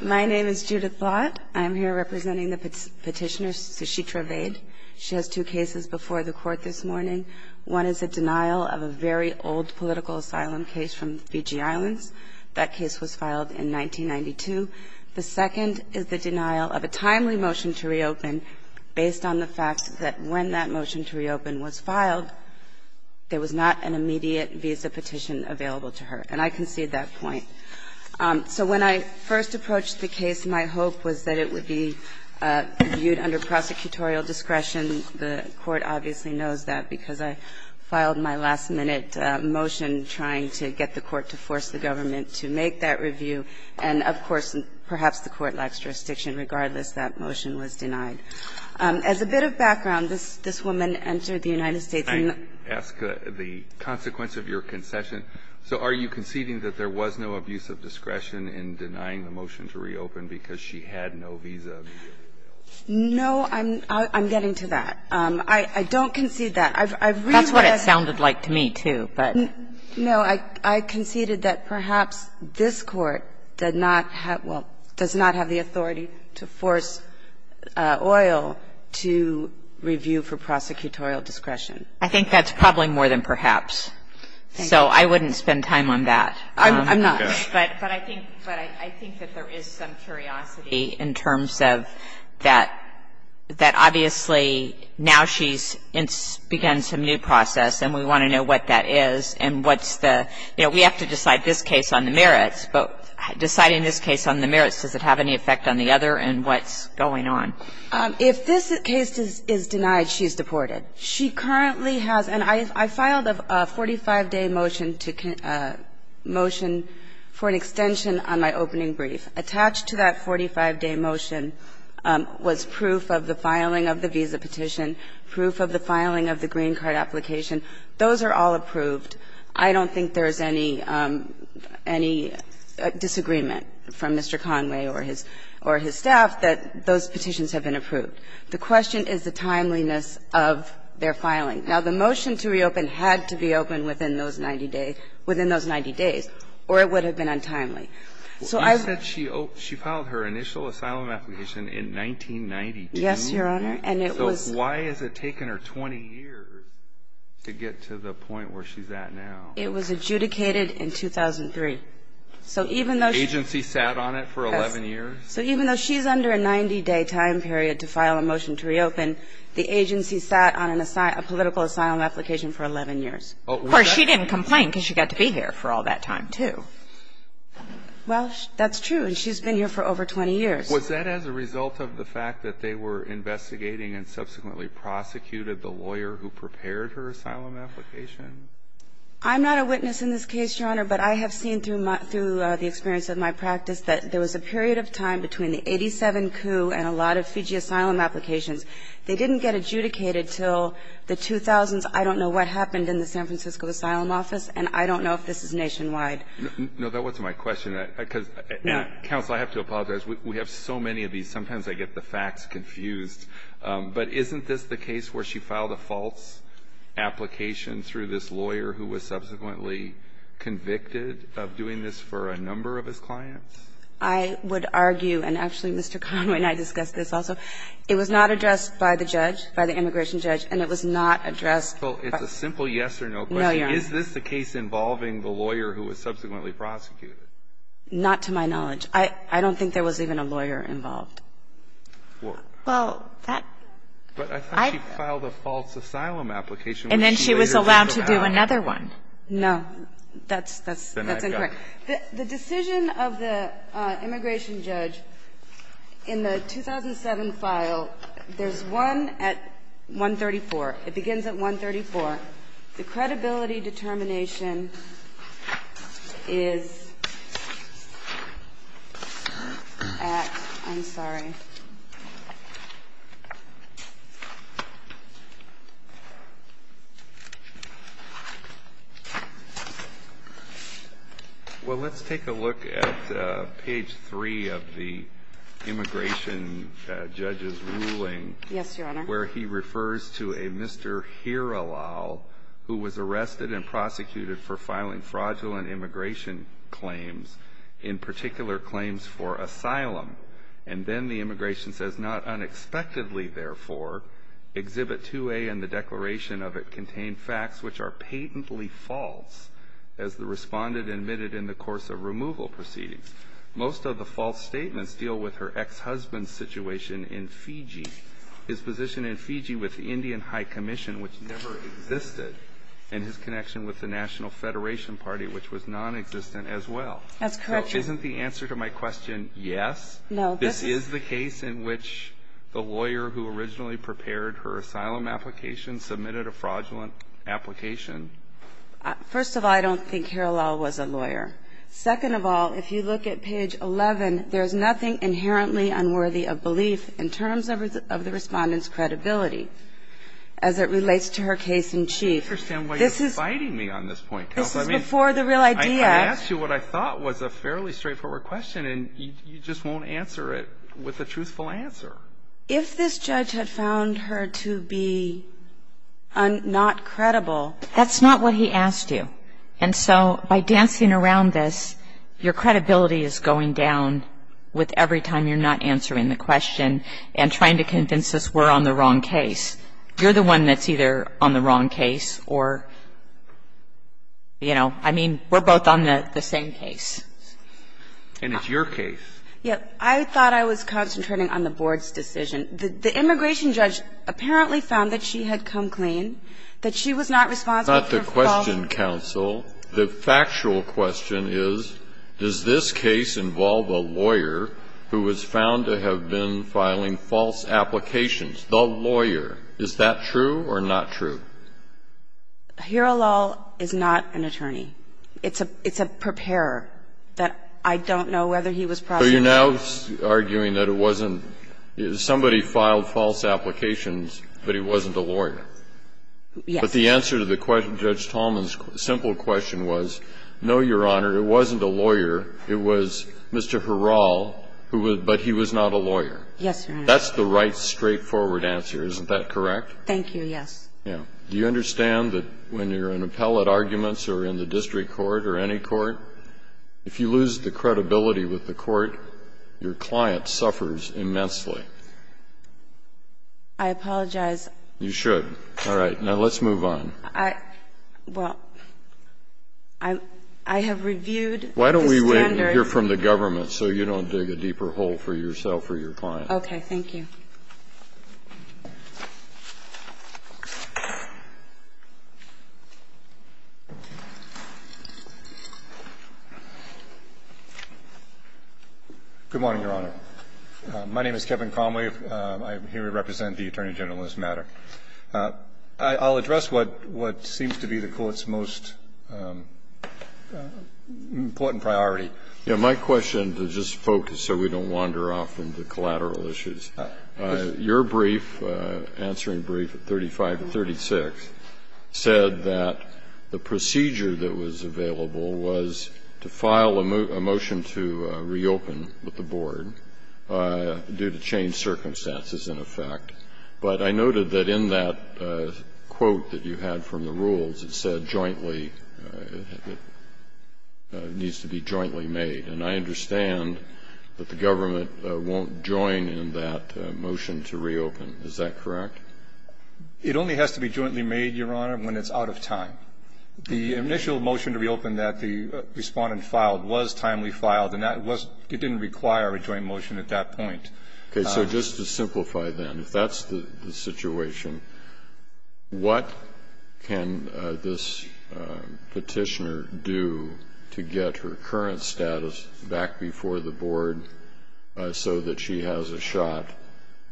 My name is Judith Blatt. I'm here representing the petitioner Sushitra Vaid. She has two cases before the court this morning. One is a denial of a very old political asylum case from the Fiji Islands. That case was filed in 1992. The second is the denial of a timely motion to reopen based on the fact that when that motion to reopen was filed, there was not an immediate visa petition available to her, and I concede that point. So when I first approached the case, my hope was that it would be reviewed under prosecutorial discretion. The court obviously knows that because I filed my last-minute motion trying to get the court to force the government to make that review, and, of course, perhaps the court lacks jurisdiction. Regardless, that motion was denied. As a bit of background, this woman entered the United States in the 1990s. Did she have any abuse of discretion in denying the motion to reopen because she had no visa? No, I'm getting to that. I don't concede that. I've read what I said. That's what it sounded like to me, too, but. No, I conceded that perhaps this Court did not have the authority to force oil to review for prosecutorial discretion. I think that's probably more than perhaps. So I wouldn't spend time on that. I'm not. But I think that there is some curiosity in terms of that obviously now she's begun some new process and we want to know what that is and what's the, you know, we have to decide this case on the merits, but deciding this case on the merits, does it have any effect on the other and what's going on? If this case is denied, she's deported. She currently has, and I filed a 45-day motion to, motion for an extension on my opening brief. Attached to that 45-day motion was proof of the filing of the visa petition, proof of the filing of the green card application. Those are all approved. I don't think there's any, any disagreement from Mr. Conway or his, or his staff that those petitions have been approved. The question is the timeliness of their filing. Now, the motion to reopen had to be opened within those 90 days or it would have been untimely. So I would. You said she filed her initial asylum application in 1992? Yes, Your Honor. And it was. So why has it taken her 20 years to get to the point where she's at now? It was adjudicated in 2003. So even though she. The agency sat on it for 11 years? So even though she's under a 90-day time period to file a motion to reopen, the agency sat on a political asylum application for 11 years. Well, she didn't complain because she got to be here for all that time, too. Well, that's true. And she's been here for over 20 years. Was that as a result of the fact that they were investigating and subsequently prosecuted the lawyer who prepared her asylum application? I'm not a witness in this case, Your Honor, but I have seen through my, through time between the 87 coup and a lot of Fiji asylum applications, they didn't get adjudicated until the 2000s. I don't know what happened in the San Francisco Asylum Office, and I don't know if this is nationwide. No, that wasn't my question, because, counsel, I have to apologize. We have so many of these. Sometimes I get the facts confused. But isn't this the case where she filed a false application through this lawyer who was subsequently convicted of doing this for a number of his clients? I would argue, and actually, Mr. Conway and I discussed this also, it was not addressed by the judge, by the immigration judge, and it was not addressed by the lawyer. Well, it's a simple yes or no question. No, Your Honor. Is this the case involving the lawyer who was subsequently prosecuted? Not to my knowledge. I don't think there was even a lawyer involved. Well, I think she filed a false asylum application. And then she was allowed to do another one. No. That's incorrect. The decision of the immigration judge in the 2007 file, there's one at 134. It begins at 134. The credibility determination is at ‑‑ I'm sorry. Well, let's take a look at page 3 of the immigration judge's ruling. Yes, Your Honor. This is where he refers to a Mr. Hiralal who was arrested and prosecuted for filing fraudulent immigration claims, in particular claims for asylum. And then the immigration says, not unexpectedly, therefore, Exhibit 2A and the declaration of it contain facts which are patently false, as the respondent admitted in the course of removal proceedings. Most of the false statements deal with her ex‑husband's situation in Fiji. His position in Fiji with the Indian High Commission, which never existed, and his connection with the National Federation Party, which was nonexistent as well. That's correct, Your Honor. So isn't the answer to my question yes? No. This is the case in which the lawyer who originally prepared her asylum application submitted a fraudulent application. First of all, I don't think Hiralal was a lawyer. Second of all, if you look at page 11, there's nothing inherently unworthy of belief in terms of the respondent's credibility as it relates to her case in chief. I don't understand why you're biting me on this point. This is before the real idea. I asked you what I thought was a fairly straightforward question, and you just won't answer it with a truthful answer. If this judge had found her to be not credible. That's not what he asked you. And so by dancing around this, your credibility is going down with every time you're not answering the question and trying to convince us we're on the wrong case. You're the one that's either on the wrong case or, you know, I mean, we're both on the same case. And it's your case. Yes. I thought I was concentrating on the board's decision. The immigration judge apparently found that she had come clean, that she was not responsible That's not the question, counsel. The factual question is, does this case involve a lawyer who was found to have been filing false applications? The lawyer. Is that true or not true? Herolal is not an attorney. It's a preparer that I don't know whether he was prosecuted. So you're now arguing that it wasn't somebody filed false applications, but he wasn't a lawyer. Yes. But the answer to Judge Tallman's simple question was, no, Your Honor, it wasn't a lawyer, it was Mr. Herol, but he was not a lawyer. Yes, Your Honor. That's the right straightforward answer. Isn't that correct? Thank you, yes. Do you understand that when you're in appellate arguments or in the district court or any court, if you lose the credibility with the court, your client suffers immensely? I apologize. You should. All right. Now, let's move on. Well, I have reviewed the standards. Why don't we wait and hear from the government so you don't dig a deeper hole for yourself or your client? Okay. Thank you. Good morning, Your Honor. My name is Kevin Conway. I'm here to represent the Attorney General in this matter. I'll address what seems to be the Court's most important priority. Yes. My question, to just focus so we don't wander off into collateral issues. Your brief, answering brief 35 and 36, said that the procedure that was available was to file a motion to reopen with the board due to changed circumstances in effect. But I noted that in that quote that you had from the rules, it said jointly, it needs to be jointly made. And I understand that the government won't join in that motion to reopen. Is that correct? It only has to be jointly made, Your Honor, when it's out of time. The initial motion to reopen that the Respondent filed was timely filed, and that was – it didn't require a joint motion at that point. Okay. So just to simplify then, if that's the situation, what can this petitioner do to get her current status back before the board so that she has a shot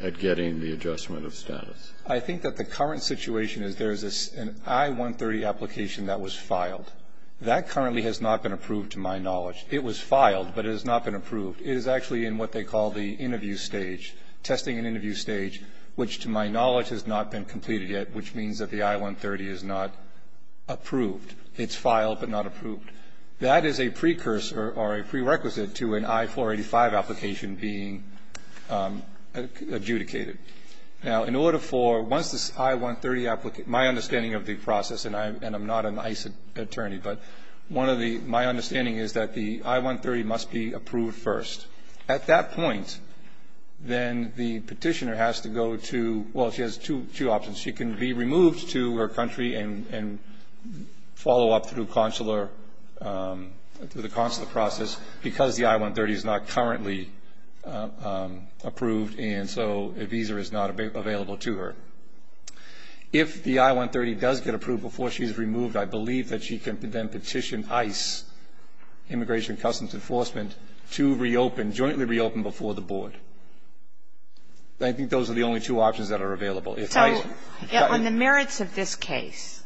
at getting the adjustment of status? I think that the current situation is there's an I-130 application that was filed. That currently has not been approved, to my knowledge. It was filed, but it has not been approved. It is actually in what they call the interview stage, testing and interview stage, which to my knowledge has not been completed yet, which means that the I-130 is not approved. It's filed, but not approved. That is a precursor or a prerequisite to an I-485 application being adjudicated. Now, in order for – once this I-130 – my understanding of the process, and I'm not an ICE attorney, but one of the – my understanding is that the I-130 must be approved first. At that point, then the petitioner has to go to – well, she has two options. She can be removed to her country and follow up through consular – through the consular process because the I-130 is not currently approved, and so a visa is not available to her. If the I-130 does get approved before she's removed, I believe that she can then petition ICE, Immigration and Customs Enforcement, to reopen, jointly reopen before the board. I think those are the only two options that are available. If ICE – So, on the merits of this case,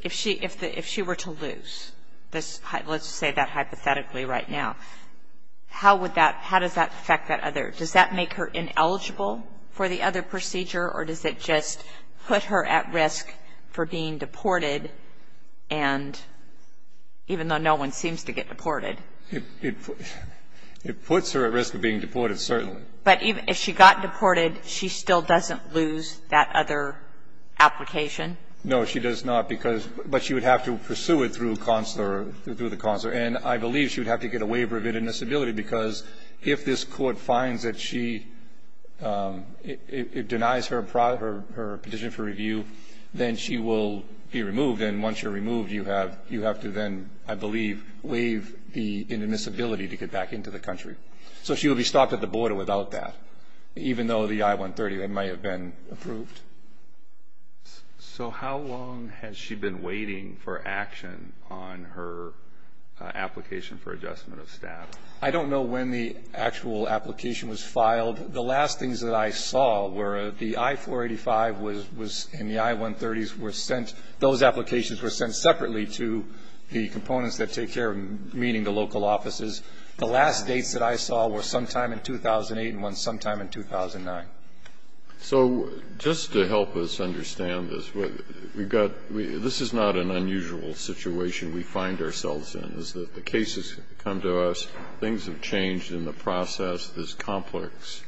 if she were to lose this – let's say that hypothetically right now, how would that – how does that affect that other – does that make her ineligible for the other procedure, or does it just put her at risk for being deported and – even though no one seems to get deported? It puts her at risk of being deported, certainly. But if she got deported, she still doesn't lose that other application? No, she does not because – but she would have to pursue it through consular – through the consular, and I believe she would have to get a waiver of If she – it denies her petition for review, then she will be removed, and once you're removed, you have to then, I believe, waive the inadmissibility to get back into the country. So she would be stopped at the border without that, even though the I-130 might have been approved. So how long has she been waiting for action on her application for adjustment of staff? I don't know when the actual application was filed. The last things that I saw were the I-485 was – in the I-130s were sent – those applications were sent separately to the components that take care of meeting the local offices. The last dates that I saw were sometime in 2008 and one sometime in 2009. So just to help us understand this, we've got – this is not an unusual situation we find ourselves in, is that the cases come to us, things have changed in the process, this complex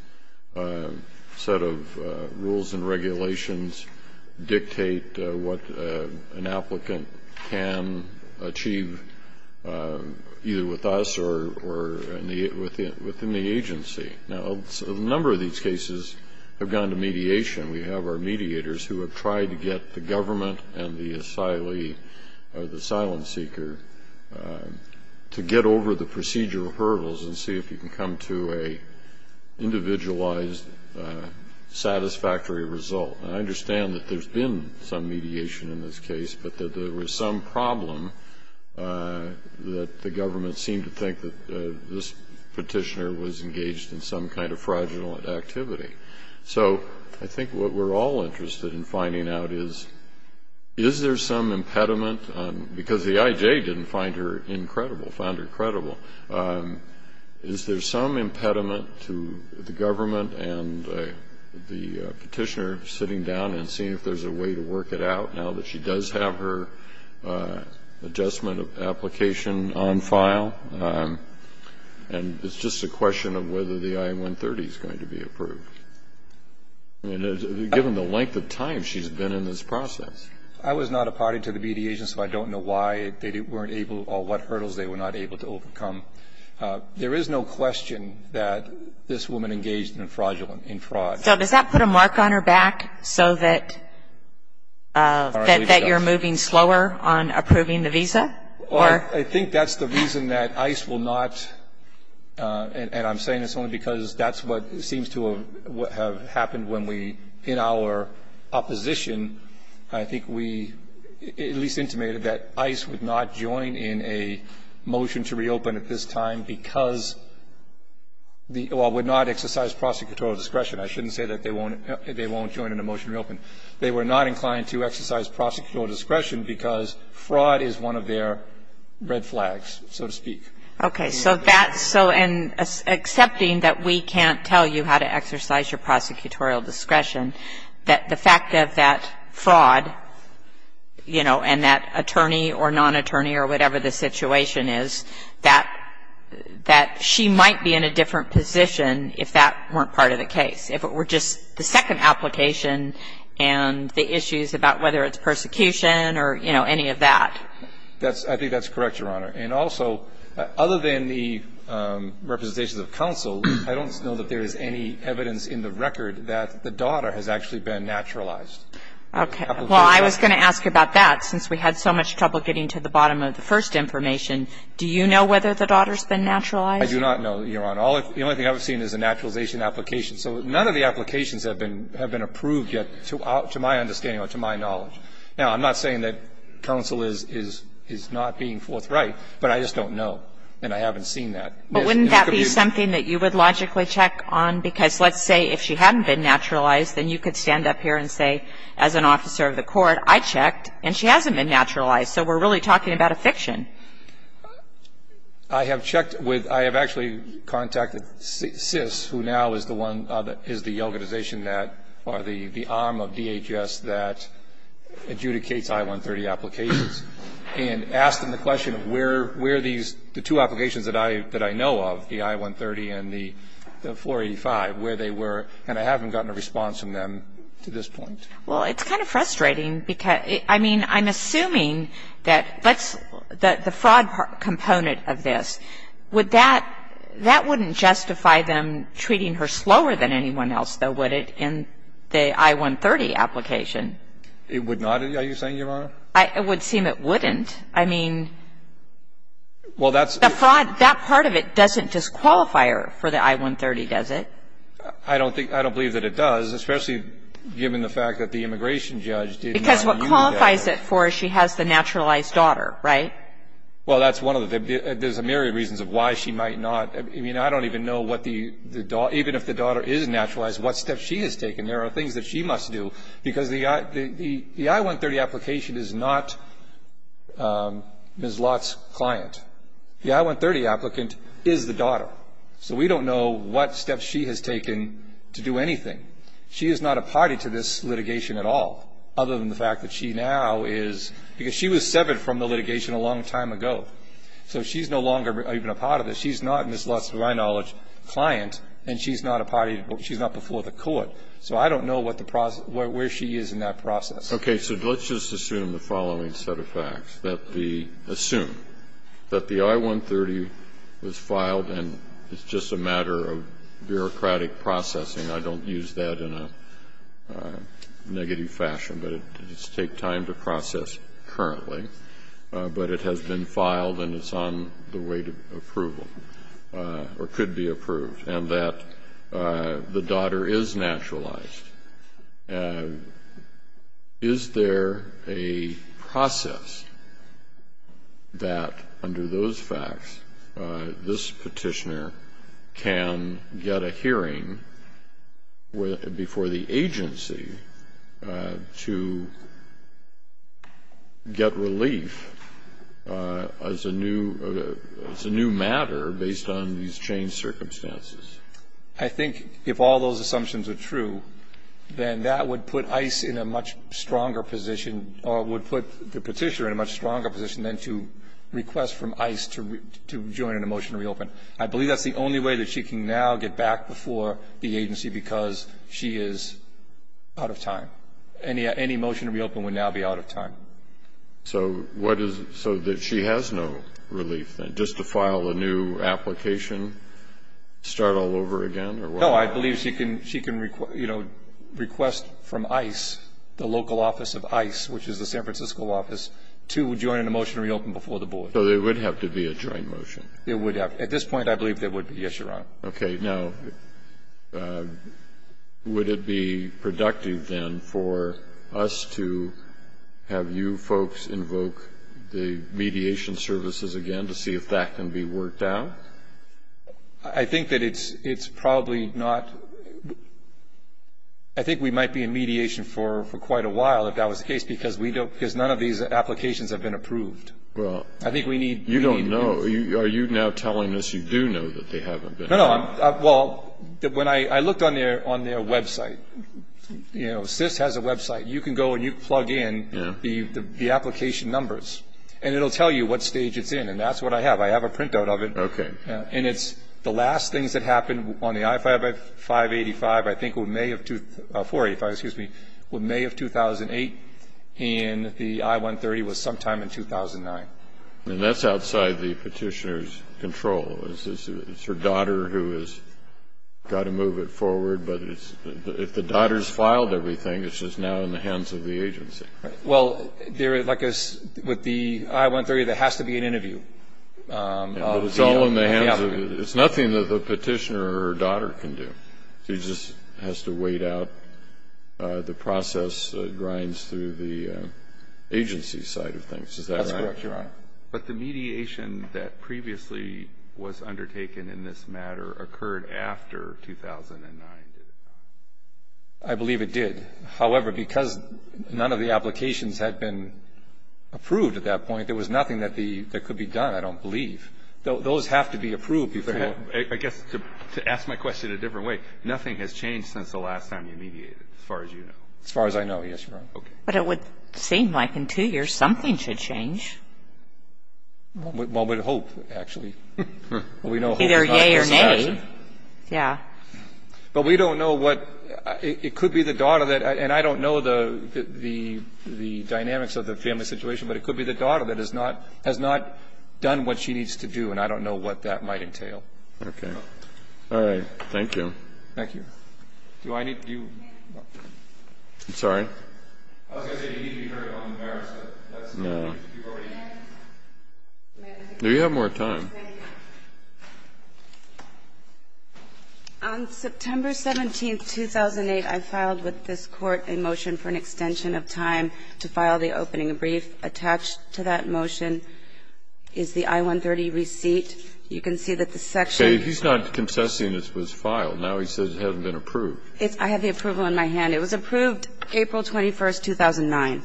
set of rules and regulations dictate what an applicant can achieve either with us or within the agency. Now, a number of these cases have gone to mediation. We have our mediators who have tried to get the government and the asylee or the asylum seeker to get over the procedural hurdles and see if you can come to an individualized satisfactory result. And I understand that there's been some mediation in this case, but that there was some problem that the government seemed to think that this petitioner was engaged in some kind of fraudulent activity. So I think what we're all interested in finding out is, is there some impediment – because the IJ didn't find her incredible, found her credible. Is there some impediment to the government and the petitioner sitting down and seeing if there's a way to work it out now that she does have her adjustment application on file? And it's just a question of whether the I-130 is going to be approved. I mean, given the length of time she's been in this process. I was not a party to the mediation, so I don't know why they weren't able or what hurdles they were not able to overcome. There is no question that this woman engaged in fraudulent – in fraud. So does that put a mark on her back so that you're moving slower on approving the visa? Well, I think that's the reason that ICE will not – and I'm saying this only because that's what seems to have happened when we – in our opposition, I think we at least intimated that ICE would not join in a motion to reopen at this time because – well, would not exercise prosecutorial discretion. I shouldn't say that they won't join in a motion to reopen. They were not inclined to exercise prosecutorial discretion because fraud is one of their red flags, so to speak. Okay. So that's – so accepting that we can't tell you how to exercise your prosecutorial discretion, that the fact of that fraud, you know, and that attorney or non-attorney or whatever the situation is, that she might be in a different position if that weren't part of the case. If it were just the second application and the issues about whether it's persecution or, you know, any of that. That's – I think that's correct, Your Honor. And also, other than the representations of counsel, I don't know that there is any evidence in the record that the daughter has actually been naturalized. Okay. Well, I was going to ask about that since we had so much trouble getting to the bottom of the first information. Do you know whether the daughter's been naturalized? I do not know, Your Honor. The only thing I've seen is a naturalization application. So none of the applications have been approved yet, to my understanding or to my knowledge. Now, I'm not saying that counsel is not being forthright, but I just don't know and I haven't seen that. But wouldn't that be something that you would logically check on? Because let's say if she hadn't been naturalized, then you could stand up here and say, as an officer of the court, I checked and she hasn't been naturalized, so we're really talking about a fiction. I have checked with, I have actually contacted SIS, who now is the one, is the organization that, or the arm of DHS that adjudicates I-130 applications, and asked them the question of where are these, the two applications that I know of, the I-130 and the 485, where they were, and I haven't gotten a response from them to this point. Well, it's kind of frustrating because, I mean, I'm assuming that the fraud component of this, would that, that wouldn't justify them treating her slower than anyone else, though, would it, in the I-130 application? It would not, are you saying, Your Honor? It would seem it wouldn't. I mean, the fraud, that part of it doesn't disqualify her for the I-130, does it? I don't think, I don't believe that it does, especially given the fact that the immigration judge did not review that. Because what qualifies it for is she has the naturalized daughter, right? Well, that's one of the, there's a myriad of reasons of why she might not. I mean, I don't even know what the, even if the daughter is naturalized, what steps she has taken. There are things that she must do, because the I-130 application is not Ms. Lott's client. The I-130 applicant is the daughter. So we don't know what steps she has taken to do anything. She is not a party to this litigation at all, other than the fact that she now is, because she was severed from the litigation a long time ago. So she's no longer even a part of this. She's not Ms. Lott's, to my knowledge, client, and she's not a party, she's not before the court. So I don't know what the process, where she is in that process. Okay. So let's just assume the following set of facts. That the, assume that the I-130 was filed and it's just a matter of bureaucratic processing. I don't use that in a negative fashion, but it does take time to process currently. But it has been filed and it's on the way to approval, or could be approved. And that the daughter is naturalized. Is there a process that, under those facts, this petitioner can get a hearing before the I think if all those assumptions are true, then that would put ICE in a much stronger position, or would put the petitioner in a much stronger position than to request from ICE to join in a motion to reopen. I believe that's the only way that she can now get back before the agency, because she is out of time. Any motion to reopen would now be out of time. So what is so that she has no relief, then, just to file a new application and start all over again? No, I believe she can request from ICE, the local office of ICE, which is the San Francisco office, to join in a motion to reopen before the board. So there would have to be a joint motion. It would have. At this point, I believe there would be. Yes, Your Honor. Okay. Now, would it be productive, then, for us to have you folks invoke the mediation services again to see if that can be worked out? I think that it's probably not. I think we might be in mediation for quite a while, if that was the case, because none of these applications have been approved. Well, you don't know. Are you now telling us you do know that they haven't been? No. Well, I looked on their website. You know, SIS has a website. You can go and you can plug in the application numbers, and it will tell you what stage it's in, and that's what I have. I have a printout of it. Okay. And it's the last things that happened on the I-585, I think, May of 2008, and the I-130 was sometime in 2009. And that's outside the petitioner's control. It's her daughter who has got to move it forward. But if the daughter's filed everything, it's just now in the hands of the agency. Well, like with the I-130, there has to be an interview. But it's all in the hands of the agency. It's nothing that the petitioner or her daughter can do. She just has to wait out the process that grinds through the agency side of things. Is that right? That's correct, Your Honor. But the mediation that previously was undertaken in this matter occurred after 2009, did it not? I believe it did. However, because none of the applications had been approved at that point, there was nothing that could be done, I don't believe. Those have to be approved before. I guess to ask my question a different way, nothing has changed since the last time you mediated, as far as you know. As far as I know, yes, Your Honor. Okay. But it would seem like in two years something should change. Well, with hope, actually. Either yea or nay. Yeah. But we don't know what – it could be the daughter that – and I don't know the dynamics of the family situation, but it could be the daughter that has not done what she needs to do, and I don't know what that might entail. Okay. All right. Thank you. Thank you. Do I need – do you – I'm sorry. I was going to say you need to be heard on the merits, but that's not the case. No. Do you have more time? On September 17, 2008, I filed with this Court a motion for an extension of time to file the opening brief. Attached to that motion is the I-130 receipt. You can see that the section – Okay. He's not concessing it was filed. Now he says it hasn't been approved. I have the approval in my hand. It was approved April 21, 2009.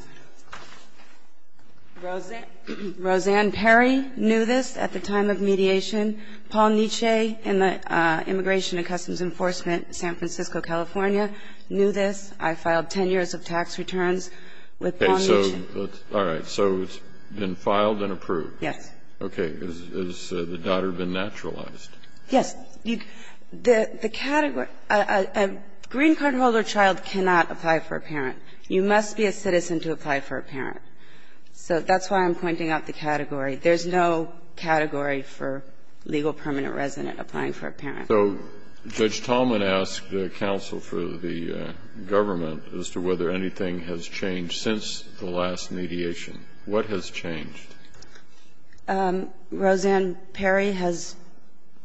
Roseanne Perry knew this at the time of mediation. Paul Nietzsche in the Immigration and Customs Enforcement, San Francisco, California, knew this. I filed 10 years of tax returns with Paul Nietzsche. All right. So it's been filed and approved. Yes. Okay. Has the daughter been naturalized? Yes. The category – a green card holder child cannot apply for a parent. You must be a citizen to apply for a parent. So that's why I'm pointing out the category. There's no category for legal permanent resident applying for a parent. So Judge Tallman asked counsel for the government as to whether anything has changed since the last mediation. What has changed? Roseanne Perry has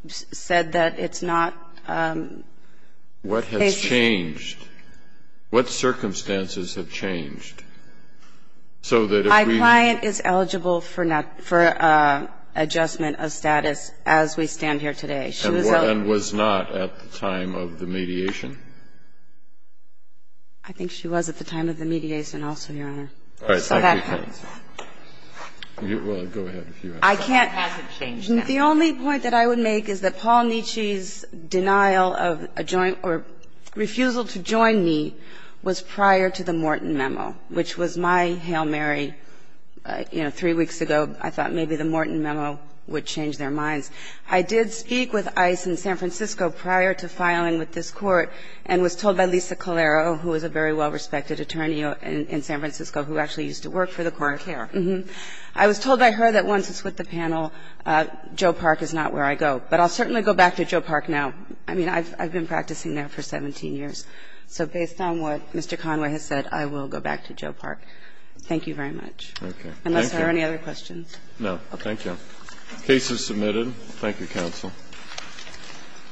said that it's not – What has changed? What circumstances have changed so that if we – My client is eligible for adjustment of status as we stand here today. And was not at the time of the mediation? I think she was at the time of the mediation also, Your Honor. All right. Go ahead. Has it changed? The only point that I would make is that Paul Nietzsche's denial of a joint or refusal to join me was prior to the Morton Memo, which was my Hail Mary, you know, three weeks ago. I thought maybe the Morton Memo would change their minds. I did speak with ICE in San Francisco prior to filing with this Court and was told by Lisa Calero, who is a very well-respected attorney in San Francisco who actually used to work for the court. I was told by her that once it's with the panel, Joe Park is not where I go. But I'll certainly go back to Joe Park now. I mean, I've been practicing there for 17 years. So based on what Mr. Conway has said, I will go back to Joe Park. Thank you very much. Thank you. Unless there are any other questions. No. Thank you. The case is submitted.